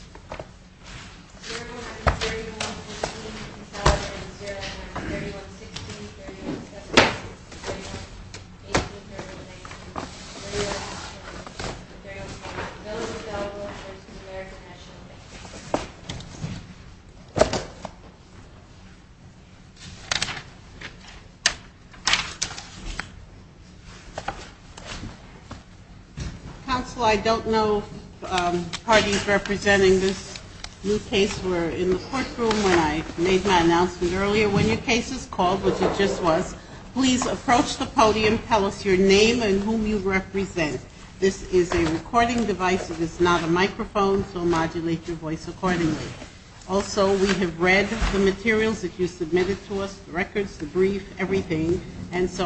Council,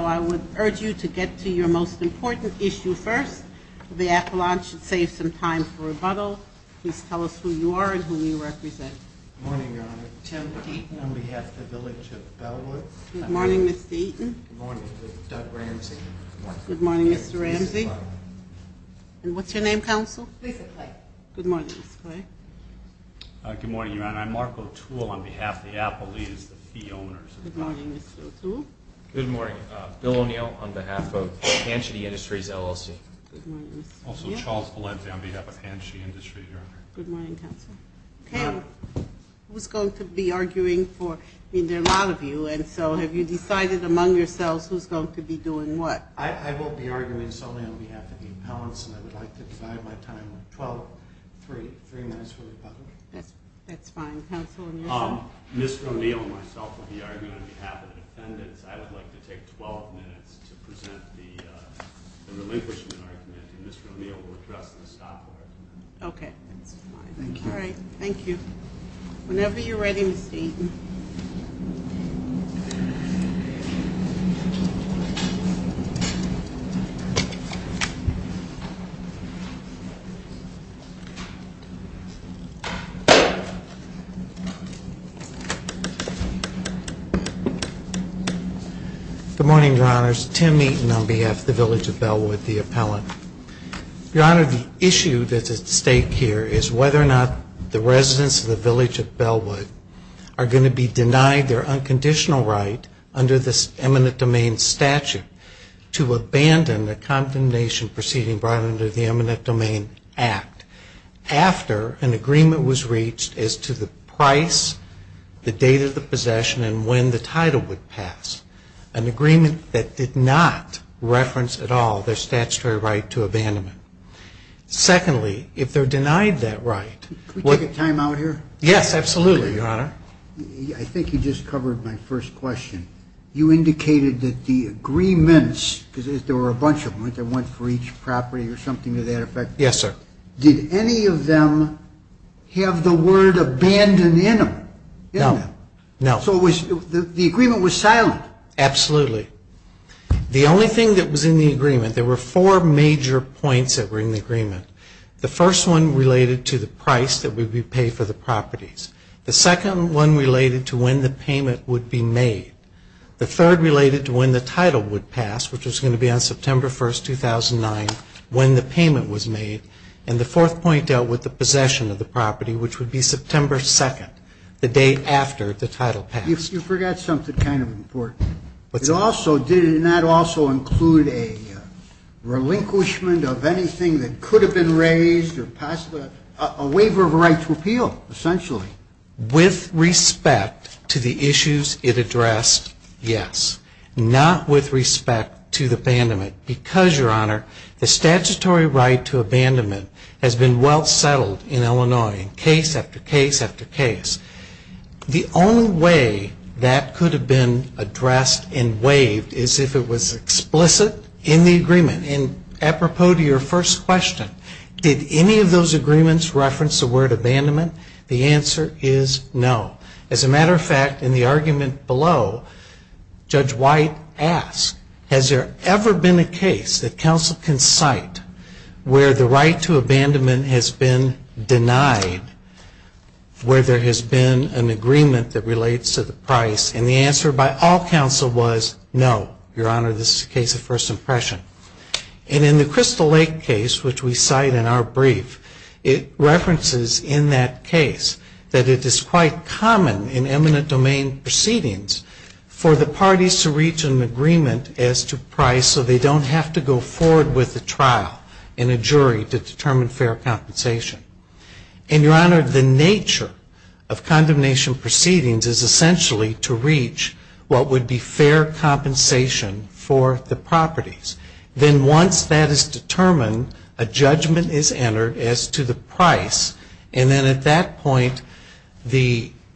I would urge you to get to your most important issue first. The appellant should save some time. I would like to take 12 minutes to present the relinquishment argument, and Mr. O'Neill will address the staff for it. Okay, that's fine. Thank you. All right, thank you. Whenever you're ready, Ms. Eaton. Good morning, Your Honors. Tim Eaton on behalf of the village of Bellwood, the appellant. Your Honor, the issue that's at stake here is whether or not the residents of the village of Bellwood are going to be denied their unconditional right under this eminent domain statute to abandon the condemnation proceeding brought under the eminent domain act after an agreement was reached as to the price, the date of the possession, and when the title would pass, an agreement that did not reference at all their statutory right to abandonment. Secondly, if they're denied that right. Can we take a time out here? Yes, absolutely, Your Honor. I think you just covered my first question. You indicated that the agreements, because there were a bunch of them, weren't there one for each property or something to that effect? Yes, sir. Did any of them have the word abandon in them? No. So the agreement was silent? Absolutely. The only thing that was in the agreement, there were four major points that were in the agreement. The first one related to the price that would be paid for the properties. The second one related to when the payment would be made. The third related to when the title would pass, which was going to be on September 1st, 2009, when the payment was made. And the fourth point dealt with the possession of the property, which would be September 2nd, the day after the title passed. You forgot something kind of important. It also did not include a relinquishment of anything that could have been raised, a waiver of a right to appeal, essentially. With respect to the issues it addressed, yes. Not with respect to the abandonment. Because, Your Honor, the statutory right to abandonment has been well settled in Illinois, case after case after case. The only way that could have been addressed and waived is if it was explicit in the agreement. And apropos to your first question, did any of those agreements reference the word abandonment? The answer is no. As a matter of fact, in the argument below, Judge White asked, has there ever been a case that counsel can cite where the right to abandonment has been denied, where there has been an agreement that relates to the price? And the answer by all counsel was no. Your Honor, this is a case of first impression. And in the Crystal Lake case, which we cite in our brief, it references in that case that it is quite common in eminent domain proceedings for the parties to reach an agreement as to price so they don't have to go forward with a trial and a jury to determine fair compensation. And, Your Honor, the nature of condemnation proceedings is essentially to reach what would be fair compensation for the properties. Then once that is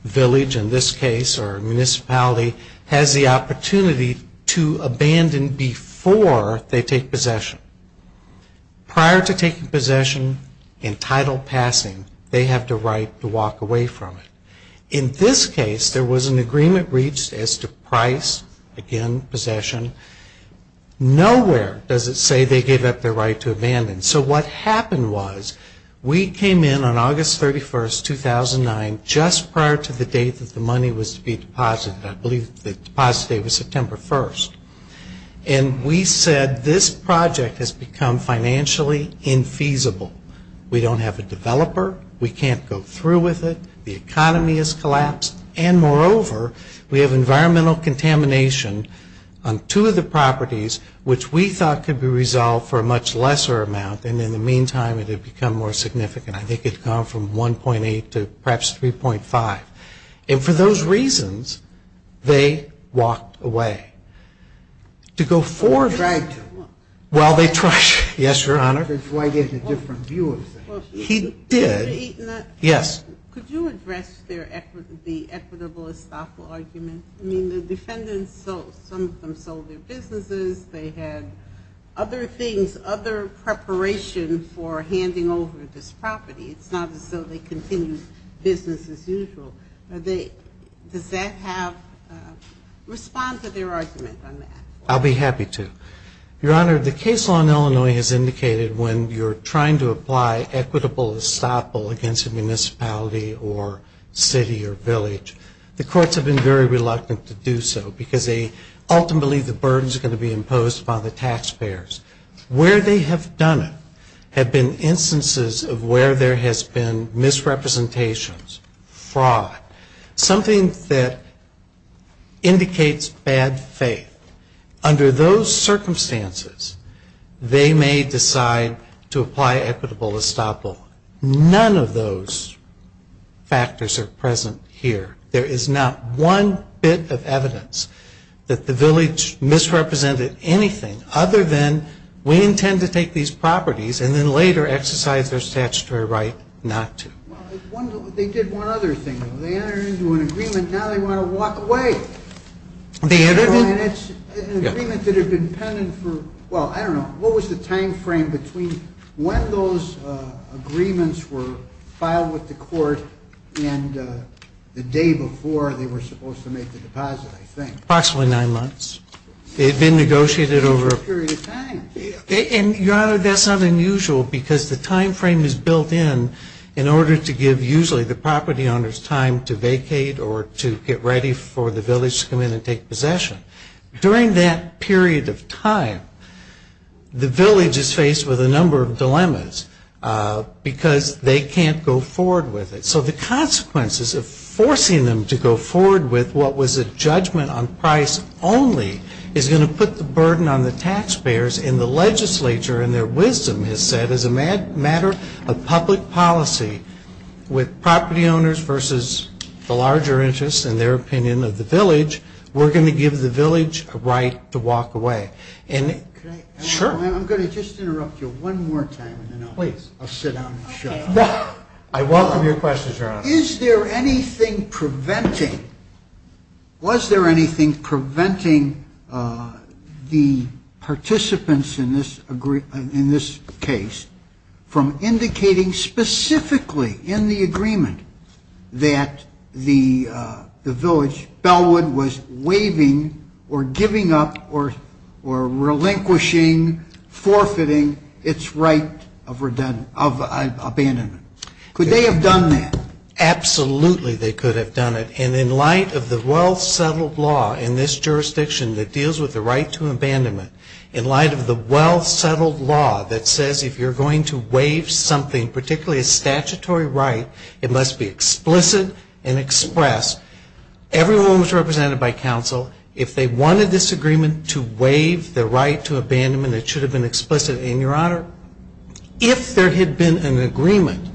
village, in this case, or municipality, has the opportunity to abandon before they take possession. Prior to taking possession, entitled passing, they have the right to walk away from it. In this case, there was an agreement reached as to price, again, possession. Nowhere does it say they gave up their right to abandon. So what happened was we came in on August 31st, 2009, just prior to the date that the money was to be deposited. I believe the deposit date was September 1st. And we said this project has become financially infeasible. We don't have a developer. We can't go through with it. The economy has collapsed. And moreover, we have environmental contamination on two of the properties, which we thought could be resolved for a much lesser amount. And in the meantime, it had become more significant. I think it had gone from 1.8 to perhaps 3.5. And for those reasons, they walked away. To go forward ‑‑ I'll be happy to. Your Honor, the case law in Illinois has indicated when you're trying to apply equitable estoppel against a municipality or city or village, the courts have been very reluctant to do so because they ultimately believe the burden is going to be imposed upon the taxpayers. Where they have done it have been instances of where there has been misrepresentations, fraud, something that indicates bad faith. Under those circumstances, they may decide to apply equitable estoppel. None of those factors are present here. There is not one bit of evidence that the village misrepresented anything other than we intend to take these properties and then later exercise their statutory right not to. Approximately nine months. They had been negotiated over a period of time. And, Your Honor, that's not unusual because the time frame is built in, in order to make the deposit. And it's not unusual to have an agreement that has been pending for, well, I don't know, what was the time frame between when those agreements were filed with the court and the day before they were supposed to make the deposit, I think. usually the property owner's time to vacate or to get ready for the village to come in and take possession. During that period of time, the village is faced with a number of dilemmas because they can't go forward with it. So the consequences of forcing them to go forward with what was a judgment on property ownership, which was a judgment on property ownership, was a judgment on property ownership. only is going to put the burden on the taxpayers and the legislature and their wisdom has said as a matter of public policy with property owners versus the larger interests and their opinion of the village, we're going to give the village a right to walk away. And, sure. I'm going to just interrupt you one more time and then I'll sit down and shut up. I welcome your questions, Your Honor. Is there anything preventing, was there anything preventing the participants in this case from indicating specifically in the agreement that the village, Bellwood, was waiving or giving up or relinquishing, forfeiting its right of abandonment? Absolutely, they could have done it. And in light of the well-settled law in this jurisdiction that deals with the right to abandonment, in light of the well-settled law that says if you're going to waive something, particularly a statutory right, it must be explicit and expressed, everyone was represented by counsel, if they wanted this agreement to waive the right to abandonment, it should have been explicit. And, Your Honor, if there had been an agreement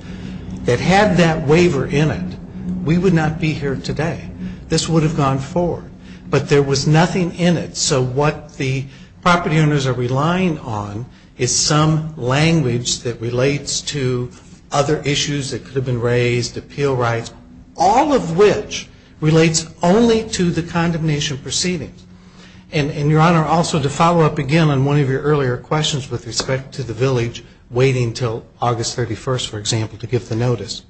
that had that waiver in it, we would not be here today. This would have gone forward. But there was nothing in it. So what the property owners are relying on is some language that relates to other issues that could have been raised, appeal rights, all of which relates only to the condemnation proceedings. And, Your Honor, also to follow up again on one of your earlier questions with respect to the village waiting until August 31st, for example, to give the notice,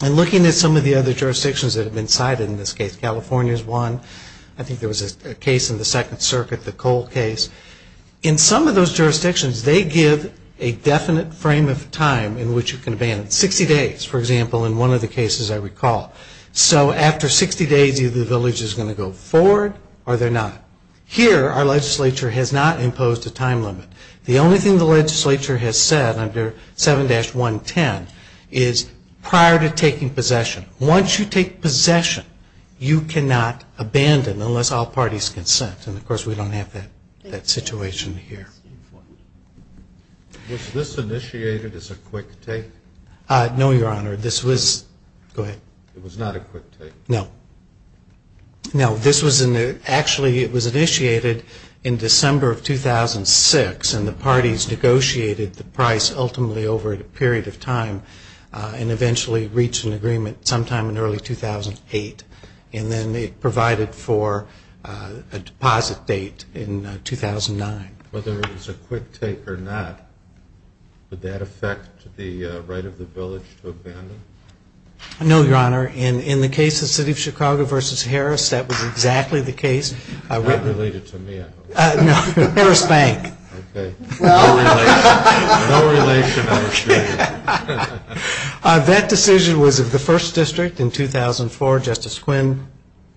in looking at some of the other jurisdictions that have been cited in this case, California is one, I think there was a case in the Second Circuit, the Cole case, in some of those jurisdictions, they give a definite frame of time in which you can abandon, 60 days, for example, in one of the cases I recall. So after 60 days, either the village is going to go forward or they're not. Here, our legislature has not imposed a time limit. The only thing the legislature has said under 7-110 is prior to taking possession. Once you take possession, you cannot abandon unless all parties consent. And, of course, we don't have that situation here. Was this initiated as a quick take? No, Your Honor. This was, go ahead. It was not a quick take? No. No. This was, actually, it was initiated in December of 2006. And the parties negotiated the price ultimately over a period of time and eventually reached an agreement sometime in early 2008. And then it provided for a deposit date in 2009. Whether it was a quick take or not, would that affect the right of the village to abandon? No, Your Honor. In the case of the City of Chicago v. Harris, that was exactly the case. Not related to me, I hope. No. Harris Bank. Okay. No relation. No relation, I assure you. That decision was of the First District in 2004. Justice Quinn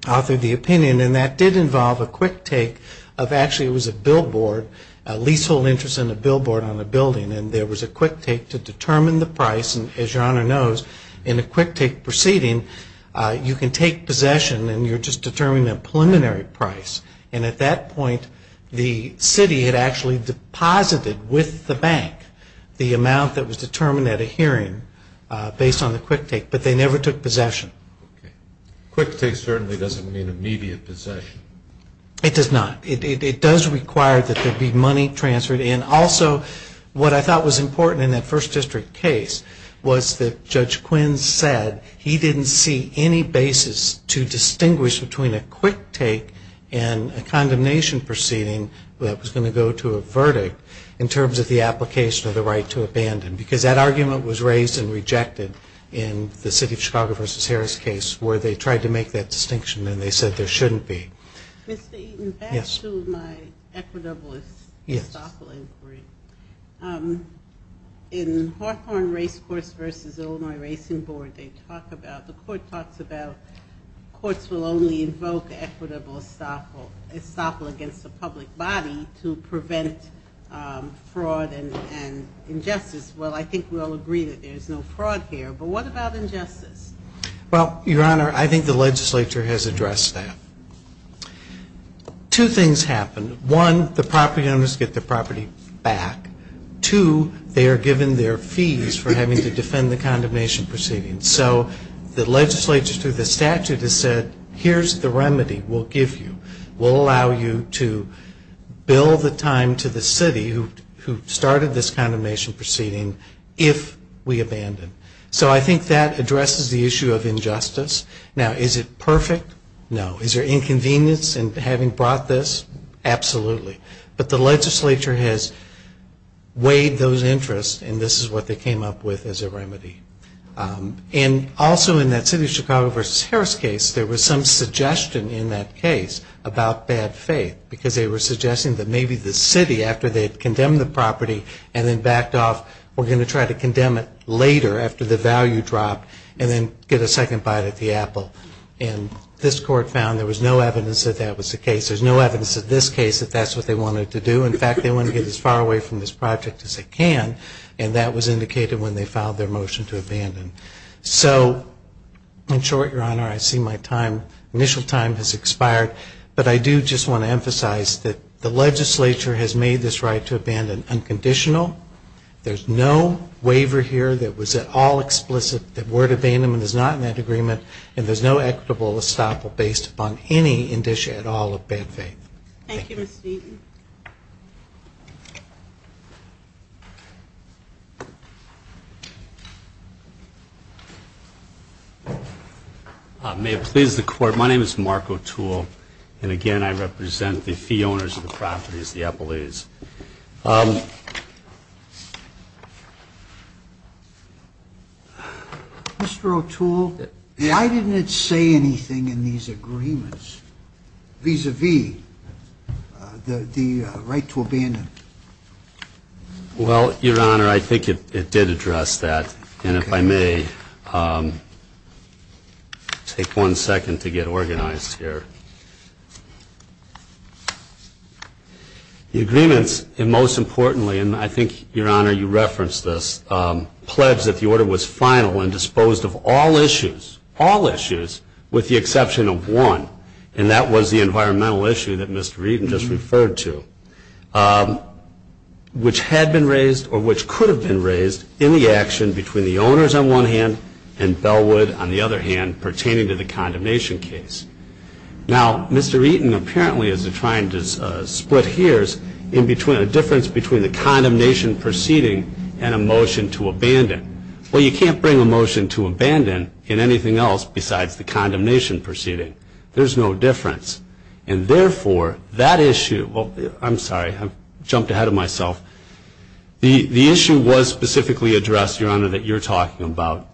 authored the opinion. And that did involve a quick take of, actually, it was a billboard, a leasehold interest in a billboard on a building. And there was a quick take to determine the price. And, as Your Honor knows, in a quick take proceeding, you can take possession and you're just determining a preliminary price. And at that point, the city had actually deposited with the bank the amount that was determined at a hearing based on the quick take. But they never took possession. Okay. Quick take certainly doesn't mean immediate possession. It does not. It does require that there be money transferred. And also, what I thought was important in that First District case was that Judge Quinn said he didn't see any basis to distinguish between a quick take and a condemnation proceeding that was going to go to a verdict in terms of the application of the right to abandon. Because that argument was raised and rejected in the City of Chicago v. Harris case where they tried to make that distinction and they said there shouldn't be. Mr. Eaton, back to my equitable estoppel inquiry. In Hawthorne Racecourse v. Illinois Racing Board, they talk about, the court talks about courts will only invoke equitable estoppel against the public body to prevent fraud and injustice. Well, I think we all agree that there's no fraud here. But what about injustice? Well, Your Honor, I think the legislature has addressed that. Two things happen. One, the property owners get the property back. Two, they are given their fees for having to defend the condemnation proceeding. So the legislature through the statute has said here's the remedy we'll give you. We'll allow you to bill the time to the city who started this condemnation proceeding if we abandon. So I think that addresses the issue of injustice. Now, is it perfect? No. Is there inconvenience in having brought this? Absolutely. But the legislature has weighed those interests and this is what they came up with as a remedy. And also in that City of Chicago v. Harris case, there was some suggestion in that case about bad faith. Because they were suggesting that maybe the city, after they had condemned the property and then backed off, were going to try to condemn it later after the value dropped and then get a second bite at the apple. And this court found there was no evidence that that was the case. There's no evidence in this case that that's what they wanted to do. In fact, they wanted to get as far away from this project as they can. And that was indicated when they filed their motion to abandon. So in short, Your Honor, I see my time, initial time has expired. But I do just want to emphasize that the legislature has made this right to abandon unconditional. There's no waiver here that was at all explicit that word abandonment is not in that agreement. And there's no equitable estoppel based upon any indicia at all of bad faith. Thank you, Mr. Eaton. May it please the court. My name is Mark O'Toole. And again, I represent the fee owners of the properties, the Eppleys. Mr. O'Toole, why didn't it say anything in these agreements vis-a-vis the right to abandon? Well, Your Honor, I think it did address that. And if I may, take one second to get organized here. The agreements, and most importantly, and I think, Your Honor, you referenced this, pledged that the order was final and disposed of all issues, all issues, with the exception of one. And that was the environmental issue that Mr. Eaton just referred to, which had been raised or which could have been raised in the action between the owners on one hand and Bellwood on the other hand pertaining to the condemnation case. Now, Mr. Eaton apparently is trying to split hairs in between a difference between the condemnation proceeding and a motion to abandon. Well, you can't bring a motion to abandon in anything else besides the condemnation proceeding. There's no difference. And therefore, that issue, I'm sorry, I've jumped ahead of myself. The issue was specifically addressed, Your Honor, that you're talking about.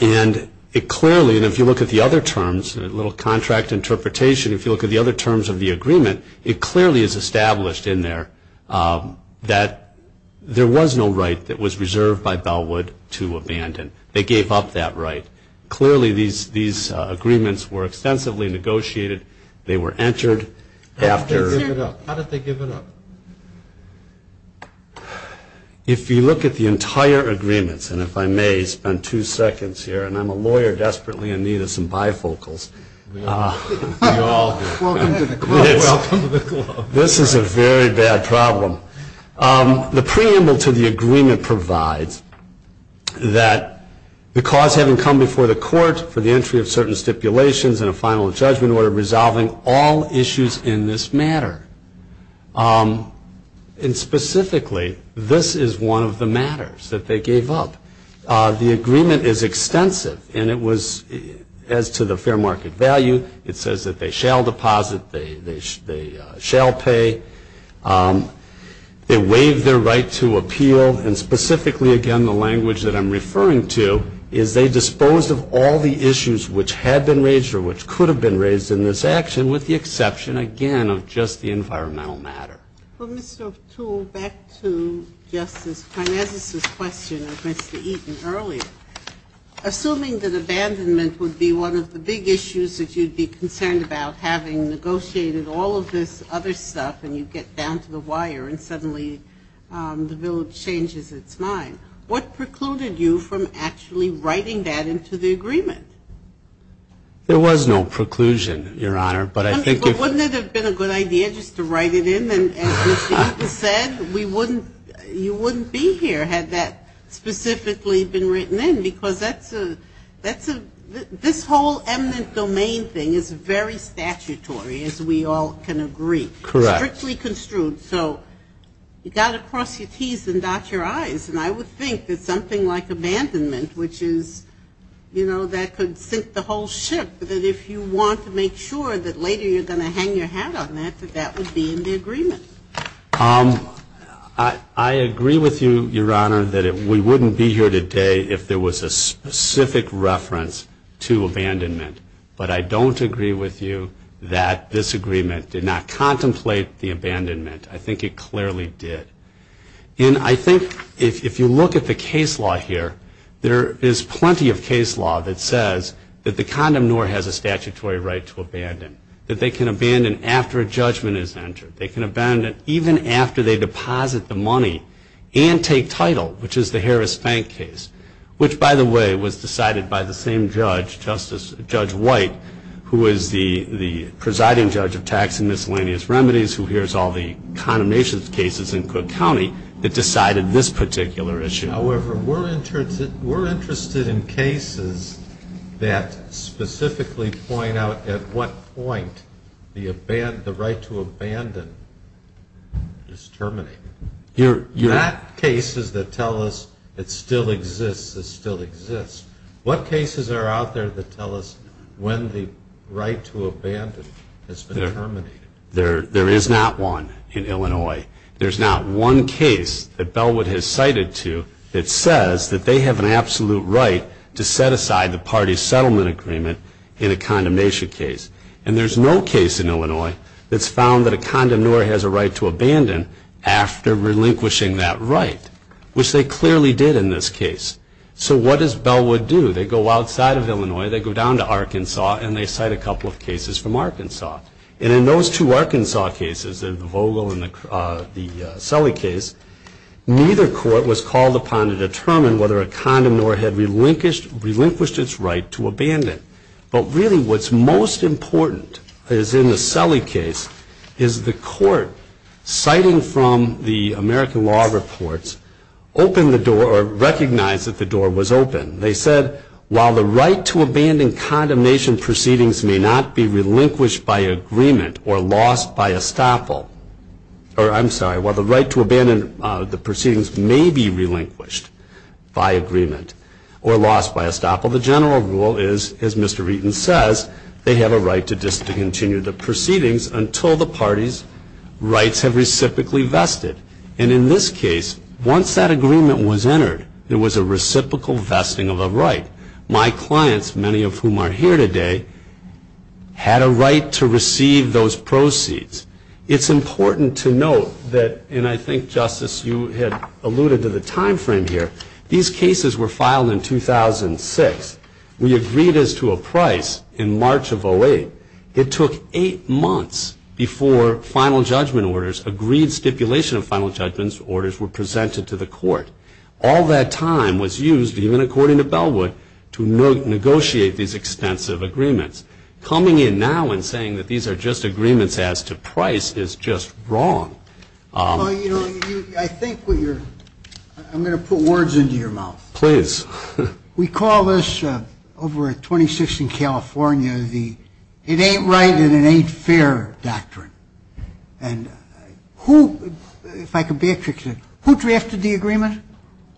And it clearly, and if you look at the other terms, a little contract interpretation, if you look at the other terms of the agreement, it clearly is established in there that there was no right that was reserved by Bellwood to abandon. They gave up that right. Clearly, these agreements were extensively negotiated. They were entered after. How did they give it up? If you look at the entire agreements, and if I may spend two seconds here, and I'm a lawyer desperately in need of some bifocals. Welcome to the club. This is a very bad problem. The preamble to the agreement provides that the cause having come before the court for the entry of certain stipulations and a final judgment were resolving all issues in this matter. And specifically, this is one of the matters that they gave up. The agreement is extensive, and it was, as to the fair market value, it says that they shall deposit, they shall pay. They waived their right to appeal, and specifically, again, in the language that I'm referring to, is they disposed of all the issues which had been raised or which could have been raised in this action with the exception, again, of just the environmental matter. Well, Mr. O'Toole, back to Justice Karnazes' question of Mr. Eaton earlier. Assuming that abandonment would be one of the big issues that you'd be concerned about, having negotiated all of this other stuff, and you get down to the wire and suddenly the bill changes its mind, what precluded you from actually writing that into the agreement? There was no preclusion, Your Honor. But wouldn't it have been a good idea just to write it in? And as Mr. Eaton said, you wouldn't be here had that specifically been written in, because this whole eminent domain thing is very statutory, as we all can agree. Correct. It's strictly construed. So you've got to cross your T's and dot your I's. And I would think that something like abandonment, which is, you know, that could sink the whole ship, that if you want to make sure that later you're going to hang your hat on that, that that would be in the agreement. I agree with you, Your Honor, that we wouldn't be here today if there was a specific reference to abandonment. But I don't agree with you that this agreement did not contemplate the abandonment. I think it clearly did. And I think if you look at the case law here, there is plenty of case law that says that the condom nor has a statutory right to abandon, that they can abandon after a judgment is entered. They can abandon even after they deposit the money and take title, which is the Harris Bank case, which, by the way, was decided by the same judge, Judge White, who is the presiding judge of tax and miscellaneous remedies, who hears all the condemnation cases in Cook County that decided this particular issue. However, we're interested in cases that specifically point out at what point the right to abandon is terminated. You have cases that tell us it still exists, it still exists. What cases are out there that tell us when the right to abandon has been terminated? There is not one in Illinois. There is not one case that Bellwood has cited to that says that they have an absolute right to set aside the party's settlement agreement in a condemnation case. And there's no case in Illinois that's found that a condom nor has a right to abandon after relinquishing that right, which they clearly did in this case. So what does Bellwood do? They go outside of Illinois, they go down to Arkansas, and they cite a couple of cases from Arkansas. And in those two Arkansas cases, the Vogel and the Sully case, neither court was called upon to determine whether a condom nor had relinquished its right to abandon. But really what's most important is in the Sully case is the court, citing from the American law reports, opened the door or recognized that the door was open. They said, while the right to abandon condemnation proceedings may not be relinquished by agreement or lost by estoppel, or I'm sorry, while the right to abandon the proceedings may be relinquished by agreement or lost by estoppel, the general rule is, as Mr. Reaton says, they have a right to continue the proceedings until the party's rights have reciprocally vested. And in this case, once that agreement was entered, there was a reciprocal vesting of a right. My clients, many of whom are here today, had a right to receive those proceeds. It's important to note that, and I think, Justice, you had alluded to the time frame here, these cases were filed in 2006. We agreed as to a price in March of 08. It took eight months before final judgment orders, agreed stipulation of final judgment orders were presented to the court. All that time was used, even according to Bellwood, to negotiate these extensive agreements. Coming in now and saying that these are just agreements as to price is just wrong. Well, you know, I think what you're, I'm going to put words into your mouth. Please. We call this, over at 26th and California, the it ain't right and it ain't fair doctrine. And who, if I could backtrack a bit, who drafted the agreement?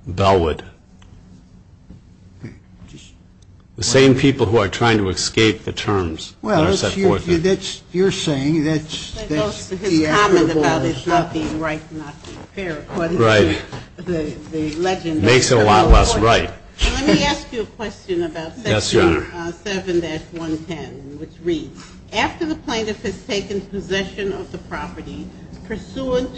Bellwood. The same people who are trying to escape the terms that are set forth. That's, you're saying, that's the answer. His comment about it not being right and not being fair, according to the legend. Makes it a lot less right. Let me ask you a question about section 7-110, which reads, after the plaintiff has taken possession of the property pursuant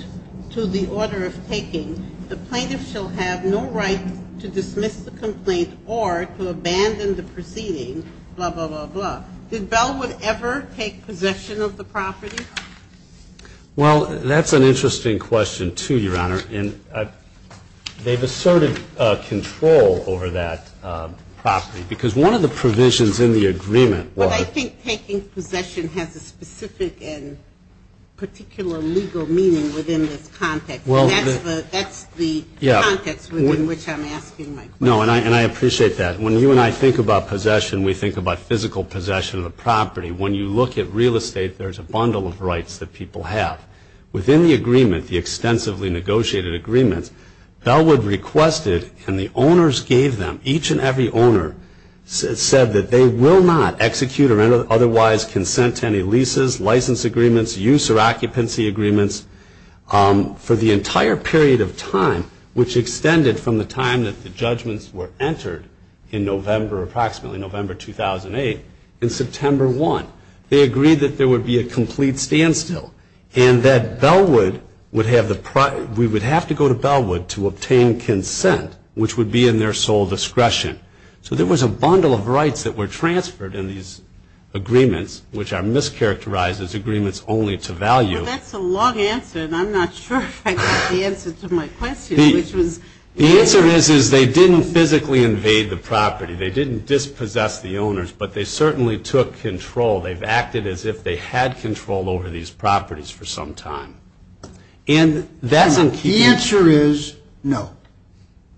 to the order of taking, the plaintiff shall have no right to dismiss the complaint or to abandon the proceeding, blah, blah, blah, blah. Did Bellwood ever take possession of the property? Well, that's an interesting question, too, Your Honor. And they've asserted control over that property. Because one of the provisions in the agreement was. But I think taking possession has a specific and particular legal meaning within this context. And that's the context within which I'm asking my question. No, and I appreciate that. When you and I think about possession, we think about physical possession of the property. When you look at real estate, there's a bundle of rights that people have. Within the agreement, the extensively negotiated agreement, Bellwood requested, and the owners gave them, each and every owner said that they will not execute or otherwise consent to any leases, license agreements, use or occupancy agreements, for the entire period of time, which extended from the time that the judgments were entered in November, approximately November 2008, in September 1. They agreed that there would be a complete standstill. And that Bellwood would have the, we would have to go to Bellwood to obtain consent, which would be in their sole discretion. So there was a bundle of rights that were transferred in these agreements, which are mischaracterized as agreements only to value. Well, that's a long answer, and I'm not sure if I got the answer to my question, which was. The answer is, is they didn't physically invade the property. They didn't dispossess the owners, but they certainly took control. They've acted as if they had control over these properties for some time. And that's. The answer is no.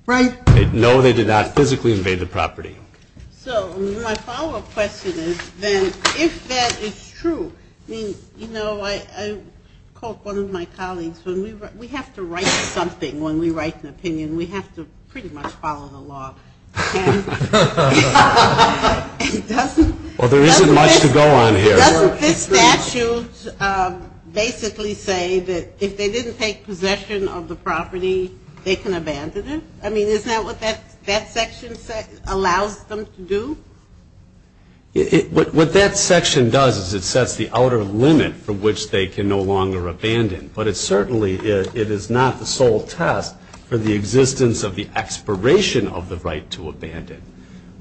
Right. No, they did not physically invade the property. So my follow-up question is, then, if that is true, I mean, you know, I caught one of my colleagues. When we write, we have to write something when we write an opinion. We have to pretty much follow the law. Well, there isn't much to go on here. Doesn't this statute basically say that if they didn't take possession of the property, they can abandon it? I mean, isn't that what that section allows them to do? What that section does is it sets the outer limit from which they can no longer abandon. But it certainly, it is not the sole test for the existence of the expiration of the right to abandon.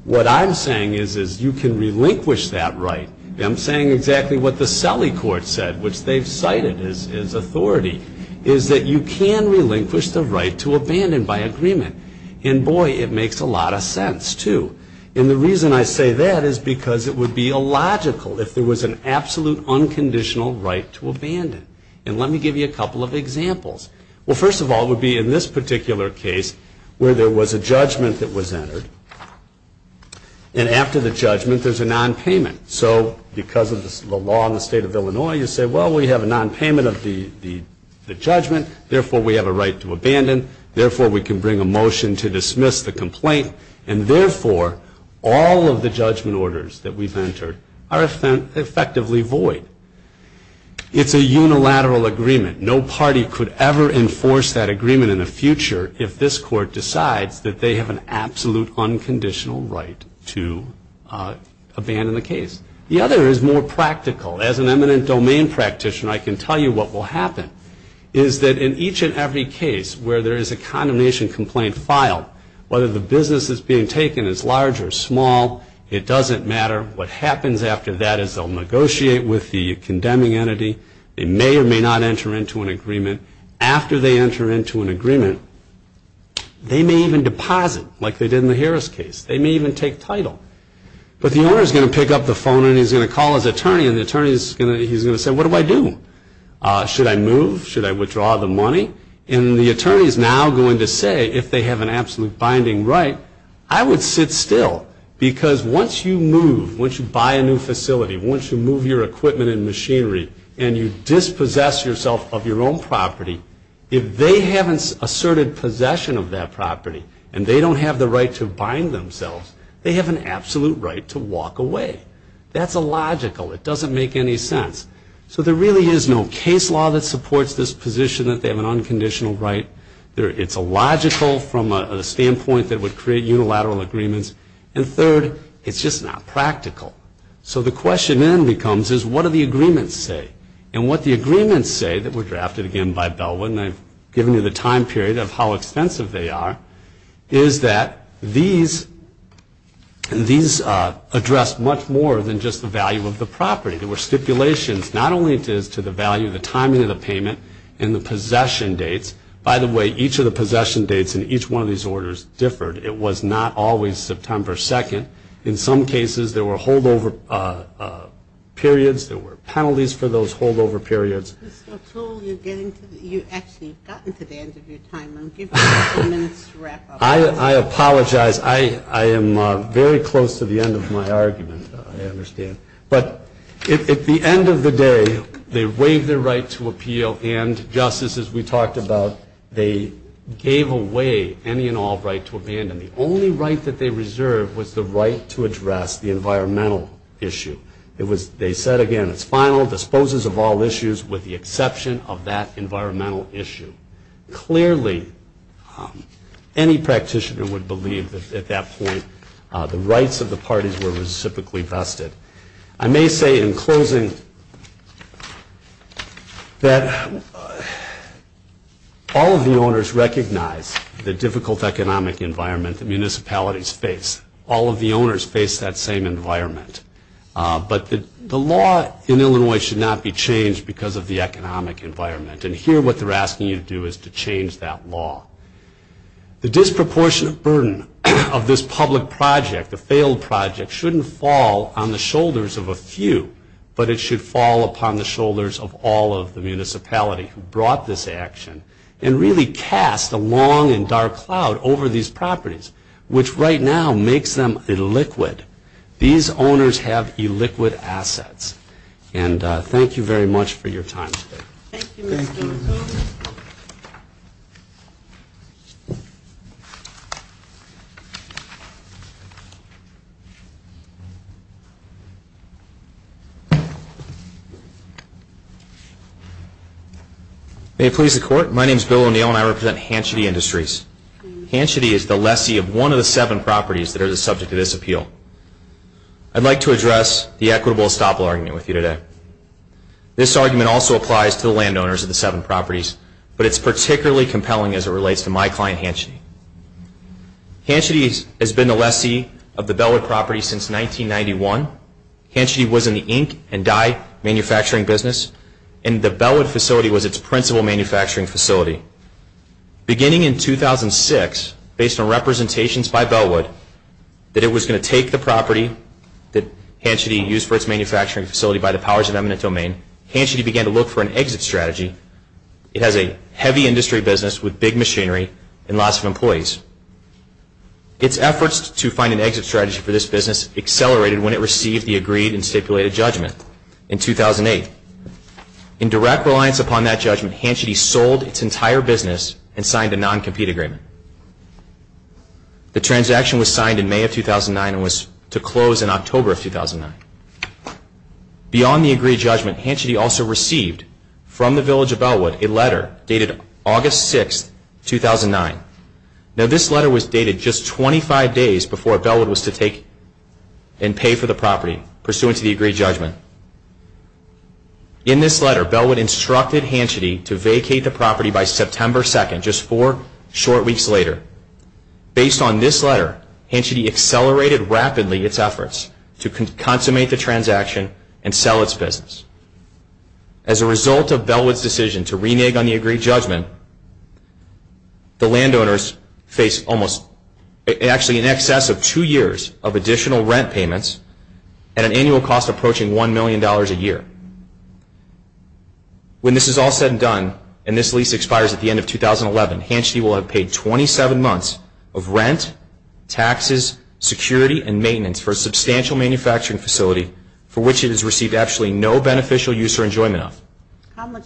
What I'm saying is, is you can relinquish that right. I'm saying exactly what the Selly Court said, which they've cited as authority, is that you can relinquish the right to abandon by agreement. And, boy, it makes a lot of sense, too. And the reason I say that is because it would be illogical if there was an absolute unconditional right to abandon. And let me give you a couple of examples. Well, first of all, it would be in this particular case where there was a judgment that was entered. And after the judgment, there's a nonpayment. So because of the law in the state of Illinois, you say, well, we have a nonpayment of the judgment. Therefore, we have a right to abandon. Therefore, we can bring a motion to dismiss the complaint. And therefore, all of the judgment orders that we've entered are effectively void. It's a unilateral agreement. No party could ever enforce that agreement in the future if this court decides that they have an absolute unconditional right to abandon the case. The other is more practical. As an eminent domain practitioner, I can tell you what will happen, is that in each and every case where there is a condemnation complaint filed, whether the business is being taken as large or small, it doesn't matter. What happens after that is they'll negotiate with the condemning entity. They may or may not enter into an agreement. After they enter into an agreement, they may even deposit, like they did in the Harris case. They may even take title. But the owner is going to pick up the phone, and he's going to call his attorney. And the attorney is going to say, what do I do? Should I move? Should I withdraw the money? And the attorney is now going to say, if they have an absolute binding right, I would sit still. Because once you move, once you buy a new facility, once you move your equipment and machinery, and you dispossess yourself of your own property, if they haven't asserted possession of that property, and they don't have the right to bind themselves, they have an absolute right to walk away. That's illogical. It doesn't make any sense. So there really is no case law that supports this position that they have an unconditional right. It's illogical from a standpoint that would create unilateral agreements. And third, it's just not practical. So the question then becomes, is what do the agreements say? And what the agreements say, that were drafted again by Bellwood, and I've given you the time period of how extensive they are, is that these address much more than just the value of the property. There were stipulations not only as to the value, the timing of the payment, and the possession dates. By the way, each of the possession dates in each one of these orders differed. It was not always September 2nd. In some cases, there were holdover periods. There were penalties for those holdover periods. Mr. O'Toole, you've actually gotten to the end of your time. I'm giving you ten minutes to wrap up. I apologize. I am very close to the end of my argument, I understand. But at the end of the day, they waived their right to appeal, and, Justice, as we talked about, they gave away any and all right to abandon. The only right that they reserved was the right to address the environmental issue. They said again, it's final, disposes of all issues with the exception of that environmental issue. Clearly, any practitioner would believe that at that point the rights of the parties were reciprocally vested. I may say in closing that all of the owners recognize the difficult economic environment that municipalities face. All of the owners face that same environment. But the law in Illinois should not be changed because of the economic environment. And here what they're asking you to do is to change that law. The disproportionate burden of this public project, the failed project, shouldn't fall on the shoulders of a few, but it should fall upon the shoulders of all of the municipalities who brought this action and really cast a long and dark cloud over these properties, which right now makes them illiquid. These owners have illiquid assets. And thank you very much for your time today. Thank you, Mr. King. May it please the Court, my name is Bill O'Neill and I represent Hanchette Industries. Hanchette is the lessee of one of the seven properties that are subject to this appeal. I'd like to address the equitable estoppel argument with you today. This argument also applies to the landowners of the seven properties, but it's particularly compelling as it relates to my client Hanchette. Hanchette has been the lessee of the Bellwood property since 1991. Hanchette was in the ink and dye manufacturing business, and the Bellwood facility was its principal manufacturing facility. Beginning in 2006, based on representations by Bellwood, that it was going to take the property that Hanchette used for its manufacturing facility by the powers of eminent domain, Hanchette began to look for an exit strategy. It has a heavy industry business with big machinery and lots of employees. Its efforts to find an exit strategy for this business accelerated when it received the agreed and stipulated judgment in 2008. In direct reliance upon that judgment, Hanchette sold its entire business and signed a non-compete agreement. The transaction was signed in May of 2009 and was to close in October of 2009. Beyond the agreed judgment, Hanchette also received from the village of Bellwood a letter dated August 6, 2009. Now, this letter was dated just 25 days before Bellwood was to take and pay for the property, pursuant to the agreed judgment. In this letter, Bellwood instructed Hanchette to vacate the property by September 2, 2009, just four short weeks later. Based on this letter, Hanchette accelerated rapidly its efforts to consummate the transaction and sell its business. As a result of Bellwood's decision to renege on the agreed judgment, the landowners face actually in excess of two years of additional rent payments at an annual cost approaching $1 million a year. When this is all said and done and this lease expires at the end of 2011, Hanchette will have paid 27 months of rent, taxes, security, and maintenance for a substantial manufacturing facility for which it has received actually no beneficial use or enjoyment of. How much,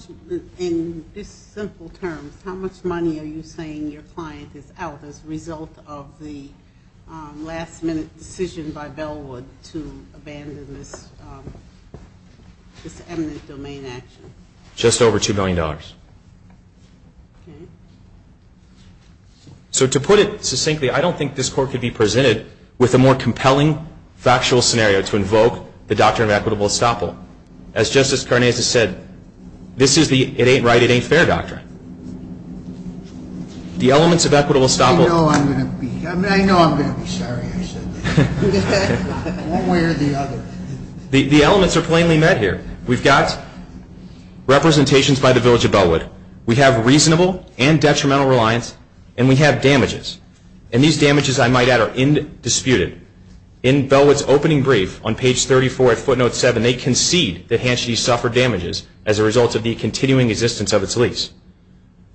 in simple terms, how much money are you saying your client is out as a result of the last-minute decision by Bellwood to abandon this eminent domain action? Just over $2 million. Okay. So to put it succinctly, I don't think this Court could be presented with a more compelling factual scenario to invoke the doctrine of equitable estoppel. As Justice Karnazes said, this is the it-ain't-right-it-ain't-fair doctrine. The elements of equitable estoppel. I know I'm going to be. I mean, I know I'm going to be. Sorry I said that. One way or the other. The elements are plainly met here. We've got representations by the Village of Bellwood. We have reasonable and detrimental reliance, and we have damages. And these damages, I might add, are indisputed. In Bellwood's opening brief on page 34 at footnote 7, they concede that Hanchette suffered damages as a result of the continuing existence of its lease.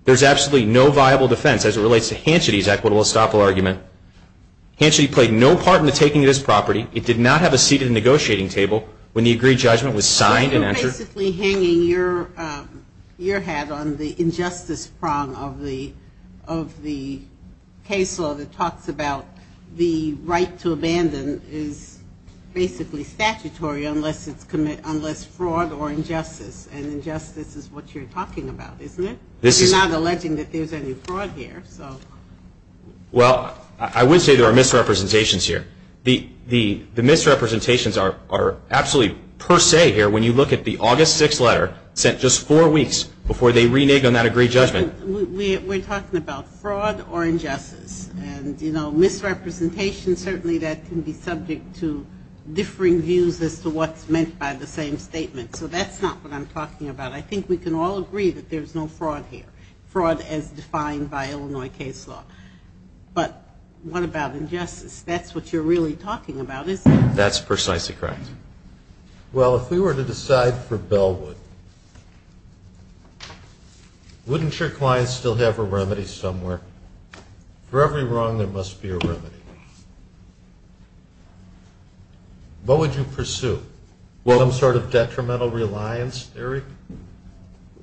There's absolutely no viable defense as it relates to Hanchette's equitable estoppel argument. Hanchette played no part in the taking of this property. It did not have a seat at the negotiating table when the agreed judgment was signed and entered. So you're basically hanging your hat on the injustice prong of the case law that talks about the right to abandon is basically statutory unless it's fraud or injustice. And injustice is what you're talking about, isn't it? You're not alleging that there's any fraud here. Well, I would say there are misrepresentations here. The misrepresentations are absolutely per se here. When you look at the August 6th letter sent just four weeks before they reneged on that agreed judgment. We're talking about fraud or injustice. And, you know, misrepresentation, certainly that can be subject to differing views as to what's meant by the same statement. So that's not what I'm talking about. I think we can all agree that there's no fraud here, fraud as defined by Illinois case law. But what about injustice? That's what you're really talking about, isn't it? That's precisely correct. Well, if we were to decide for Bellwood, wouldn't your client still have a remedy somewhere? For every wrong, there must be a remedy. What would you pursue? Some sort of detrimental reliance theory?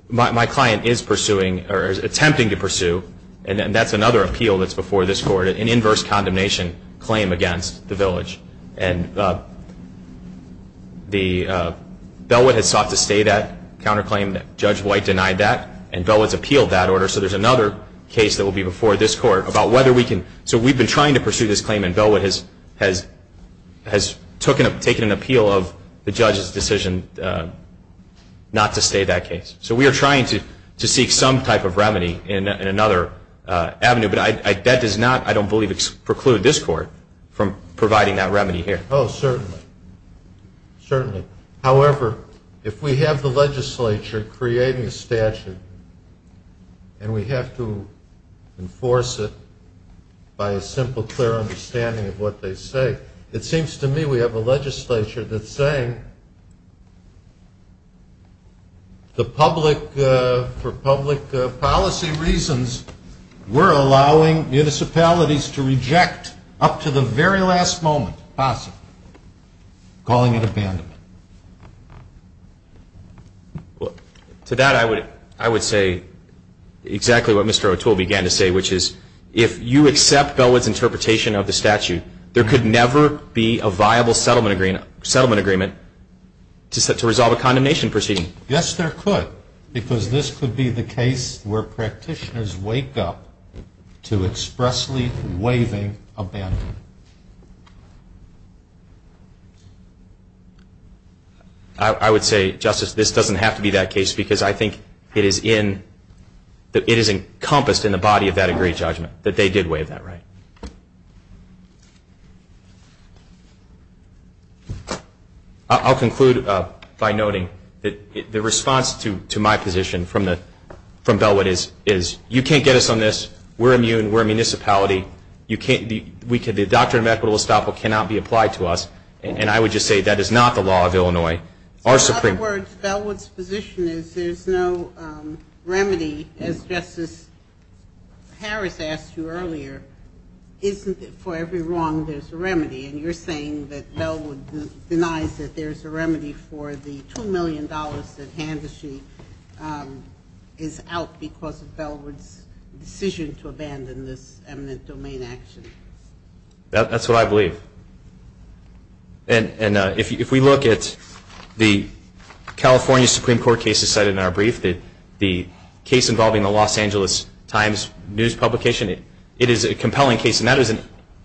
My client is pursuing or is attempting to pursue, and that's another appeal that's before this Court, an inverse condemnation claim against the village. And Bellwood has sought to stay that counterclaim. Judge White denied that, and Bellwood's appealed that order. So there's another case that will be before this Court about whether we can. So we've been trying to pursue this claim, and Bellwood has taken an appeal of the judge's decision not to stay that case. So we are trying to seek some type of remedy in another avenue. But that does not, I don't believe, preclude this Court from providing that remedy here. Oh, certainly. Certainly. However, if we have the legislature creating a statute and we have to enforce it by a simple, clear understanding of what they say, it seems to me we have a legislature that's saying, for public policy reasons, we're allowing municipalities to reject up to the very last moment, possibly, calling it abandonment. To that, I would say exactly what Mr. O'Toole began to say, which is if you accept Bellwood's interpretation of the statute, there could never be a viable settlement agreement to resolve a condemnation proceeding. Yes, there could, because this could be the case where practitioners wake up to expressly waiving abandonment. I would say, Justice, this doesn't have to be that case, because I think it is encompassed in the body of that agreed judgment that they did waive that right. I'll conclude by noting that the response to my position from Bellwood is, you can't get us on this, we're immune, we're a municipality, the doctrine of equitable estoppel cannot be applied to us, and I would just say that is not the law of Illinois. In other words, Bellwood's position is there's no remedy, as Justice Harris asked you earlier, isn't it for every wrong there's a remedy, and you're saying that Bellwood denies that there's a remedy for the $2 million that Handersheet is out because of Bellwood's decision to abandon this eminent domain action? That's what I believe. And if we look at the California Supreme Court cases cited in our brief, the case involving the Los Angeles Times news publication, it is a compelling case, and that is an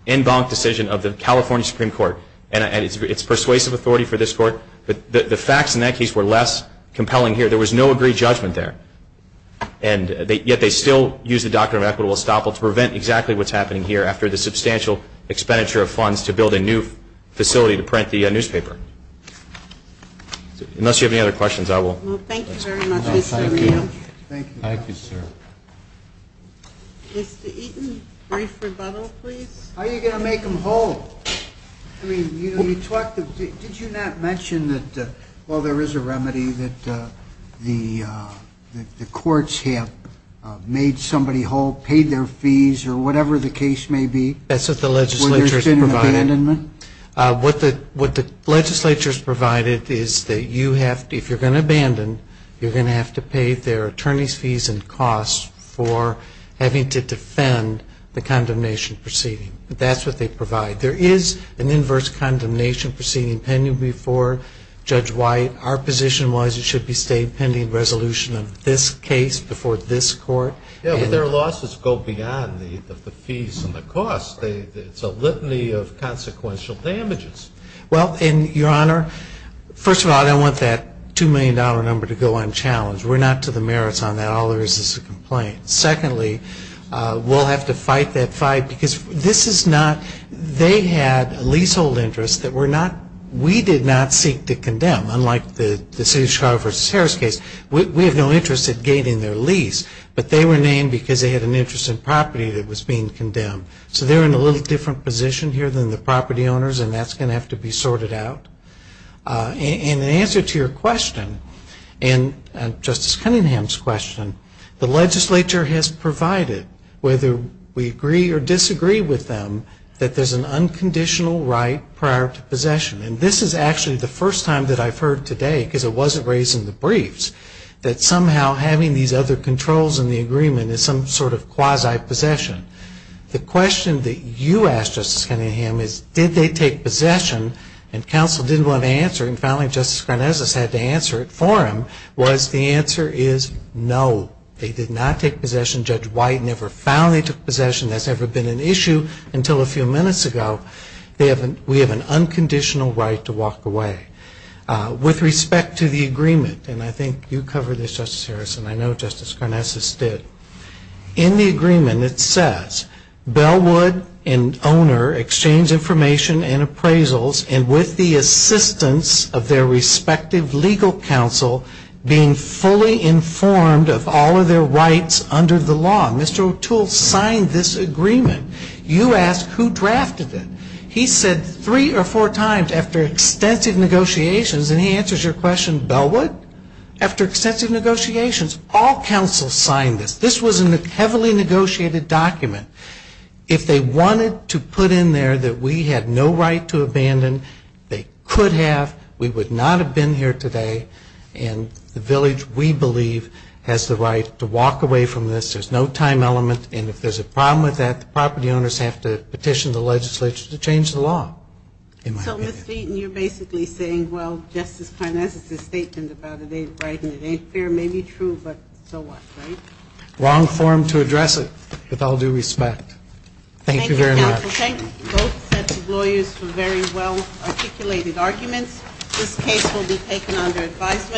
en banc decision of the California Supreme Court, and it's persuasive authority for this Court, but the facts in that case were less compelling here. There was no agreed judgment there, and yet they still use the doctrine of equitable estoppel to prevent exactly what's happening here after the substantial expenditure of funds to build a new facility to print the newspaper. Unless you have any other questions, I will. Well, thank you very much, Mr. Rios. Thank you. Thank you, sir. Mr. Eaton, brief rebuttal, please. How are you going to make them whole? I mean, did you not mention that while there is a remedy, that the courts have made somebody whole, paid their fees or whatever the case may be? That's what the legislature has provided. What the legislature has provided is that if you're going to abandon, you're going to have to pay their attorneys' fees and costs for having to defend the condemnation proceeding. That's what they provide. There is an inverse condemnation proceeding pending before Judge White. Our position was it should be stayed pending resolution of this case before this Court. Yeah, but their losses go beyond the fees and the costs. It's a litany of consequential damages. Well, and, Your Honor, first of all, I don't want that $2 million number to go unchallenged. We're not to the merits on that. All there is is a complaint. Secondly, we'll have to fight that fight because this is not, they had leasehold interests that we did not seek to condemn, unlike the City of Chicago v. Harris case. We have no interest in gaining their lease, but they were named because they had an interest in property that was being condemned. So they're in a little different position here than the property owners, and that's going to have to be sorted out. And in answer to your question, and Justice Cunningham's question, the legislature has provided, whether we agree or disagree with them, that there's an unconditional right prior to possession. And this is actually the first time that I've heard today, because it wasn't raised in the briefs, that somehow having these other controls in the agreement is some sort of quasi-possession. The question that you asked, Justice Cunningham, is did they take possession, and counsel didn't want to answer, and finally Justice Garnesas had to answer it for them, was the answer is no. They did not take possession. Judge White never found they took possession. That's never been an issue until a few minutes ago. We have an unconditional right to walk away. With respect to the agreement, and I think you covered this, Justice Harrison, I know Justice Garnesas did. In the agreement it says, Bellwood and owner exchange information and appraisals, and with the assistance of their respective legal counsel, being fully informed of all of their rights under the law. Mr. O'Toole signed this agreement. You ask who drafted it. He said three or four times after extensive negotiations, and he answers your question, Bellwood? After extensive negotiations, all counsel signed this. This was a heavily negotiated document. If they wanted to put in there that we had no right to abandon, they could have. We would not have been here today, and the village we believe has the right to walk away from this. There's no time element, and if there's a problem with that, the property owners have to petition the legislature to change the law. So, Mr. Eaton, you're basically saying, well, Justice Garnesas' statement about it ain't right and it ain't fair may be true, but so what, right? Wrong form to address it, with all due respect. Thank you very much. Thank you, counsel. Thank both sets of lawyers for very well-articulated arguments. This case will be taken under advisement.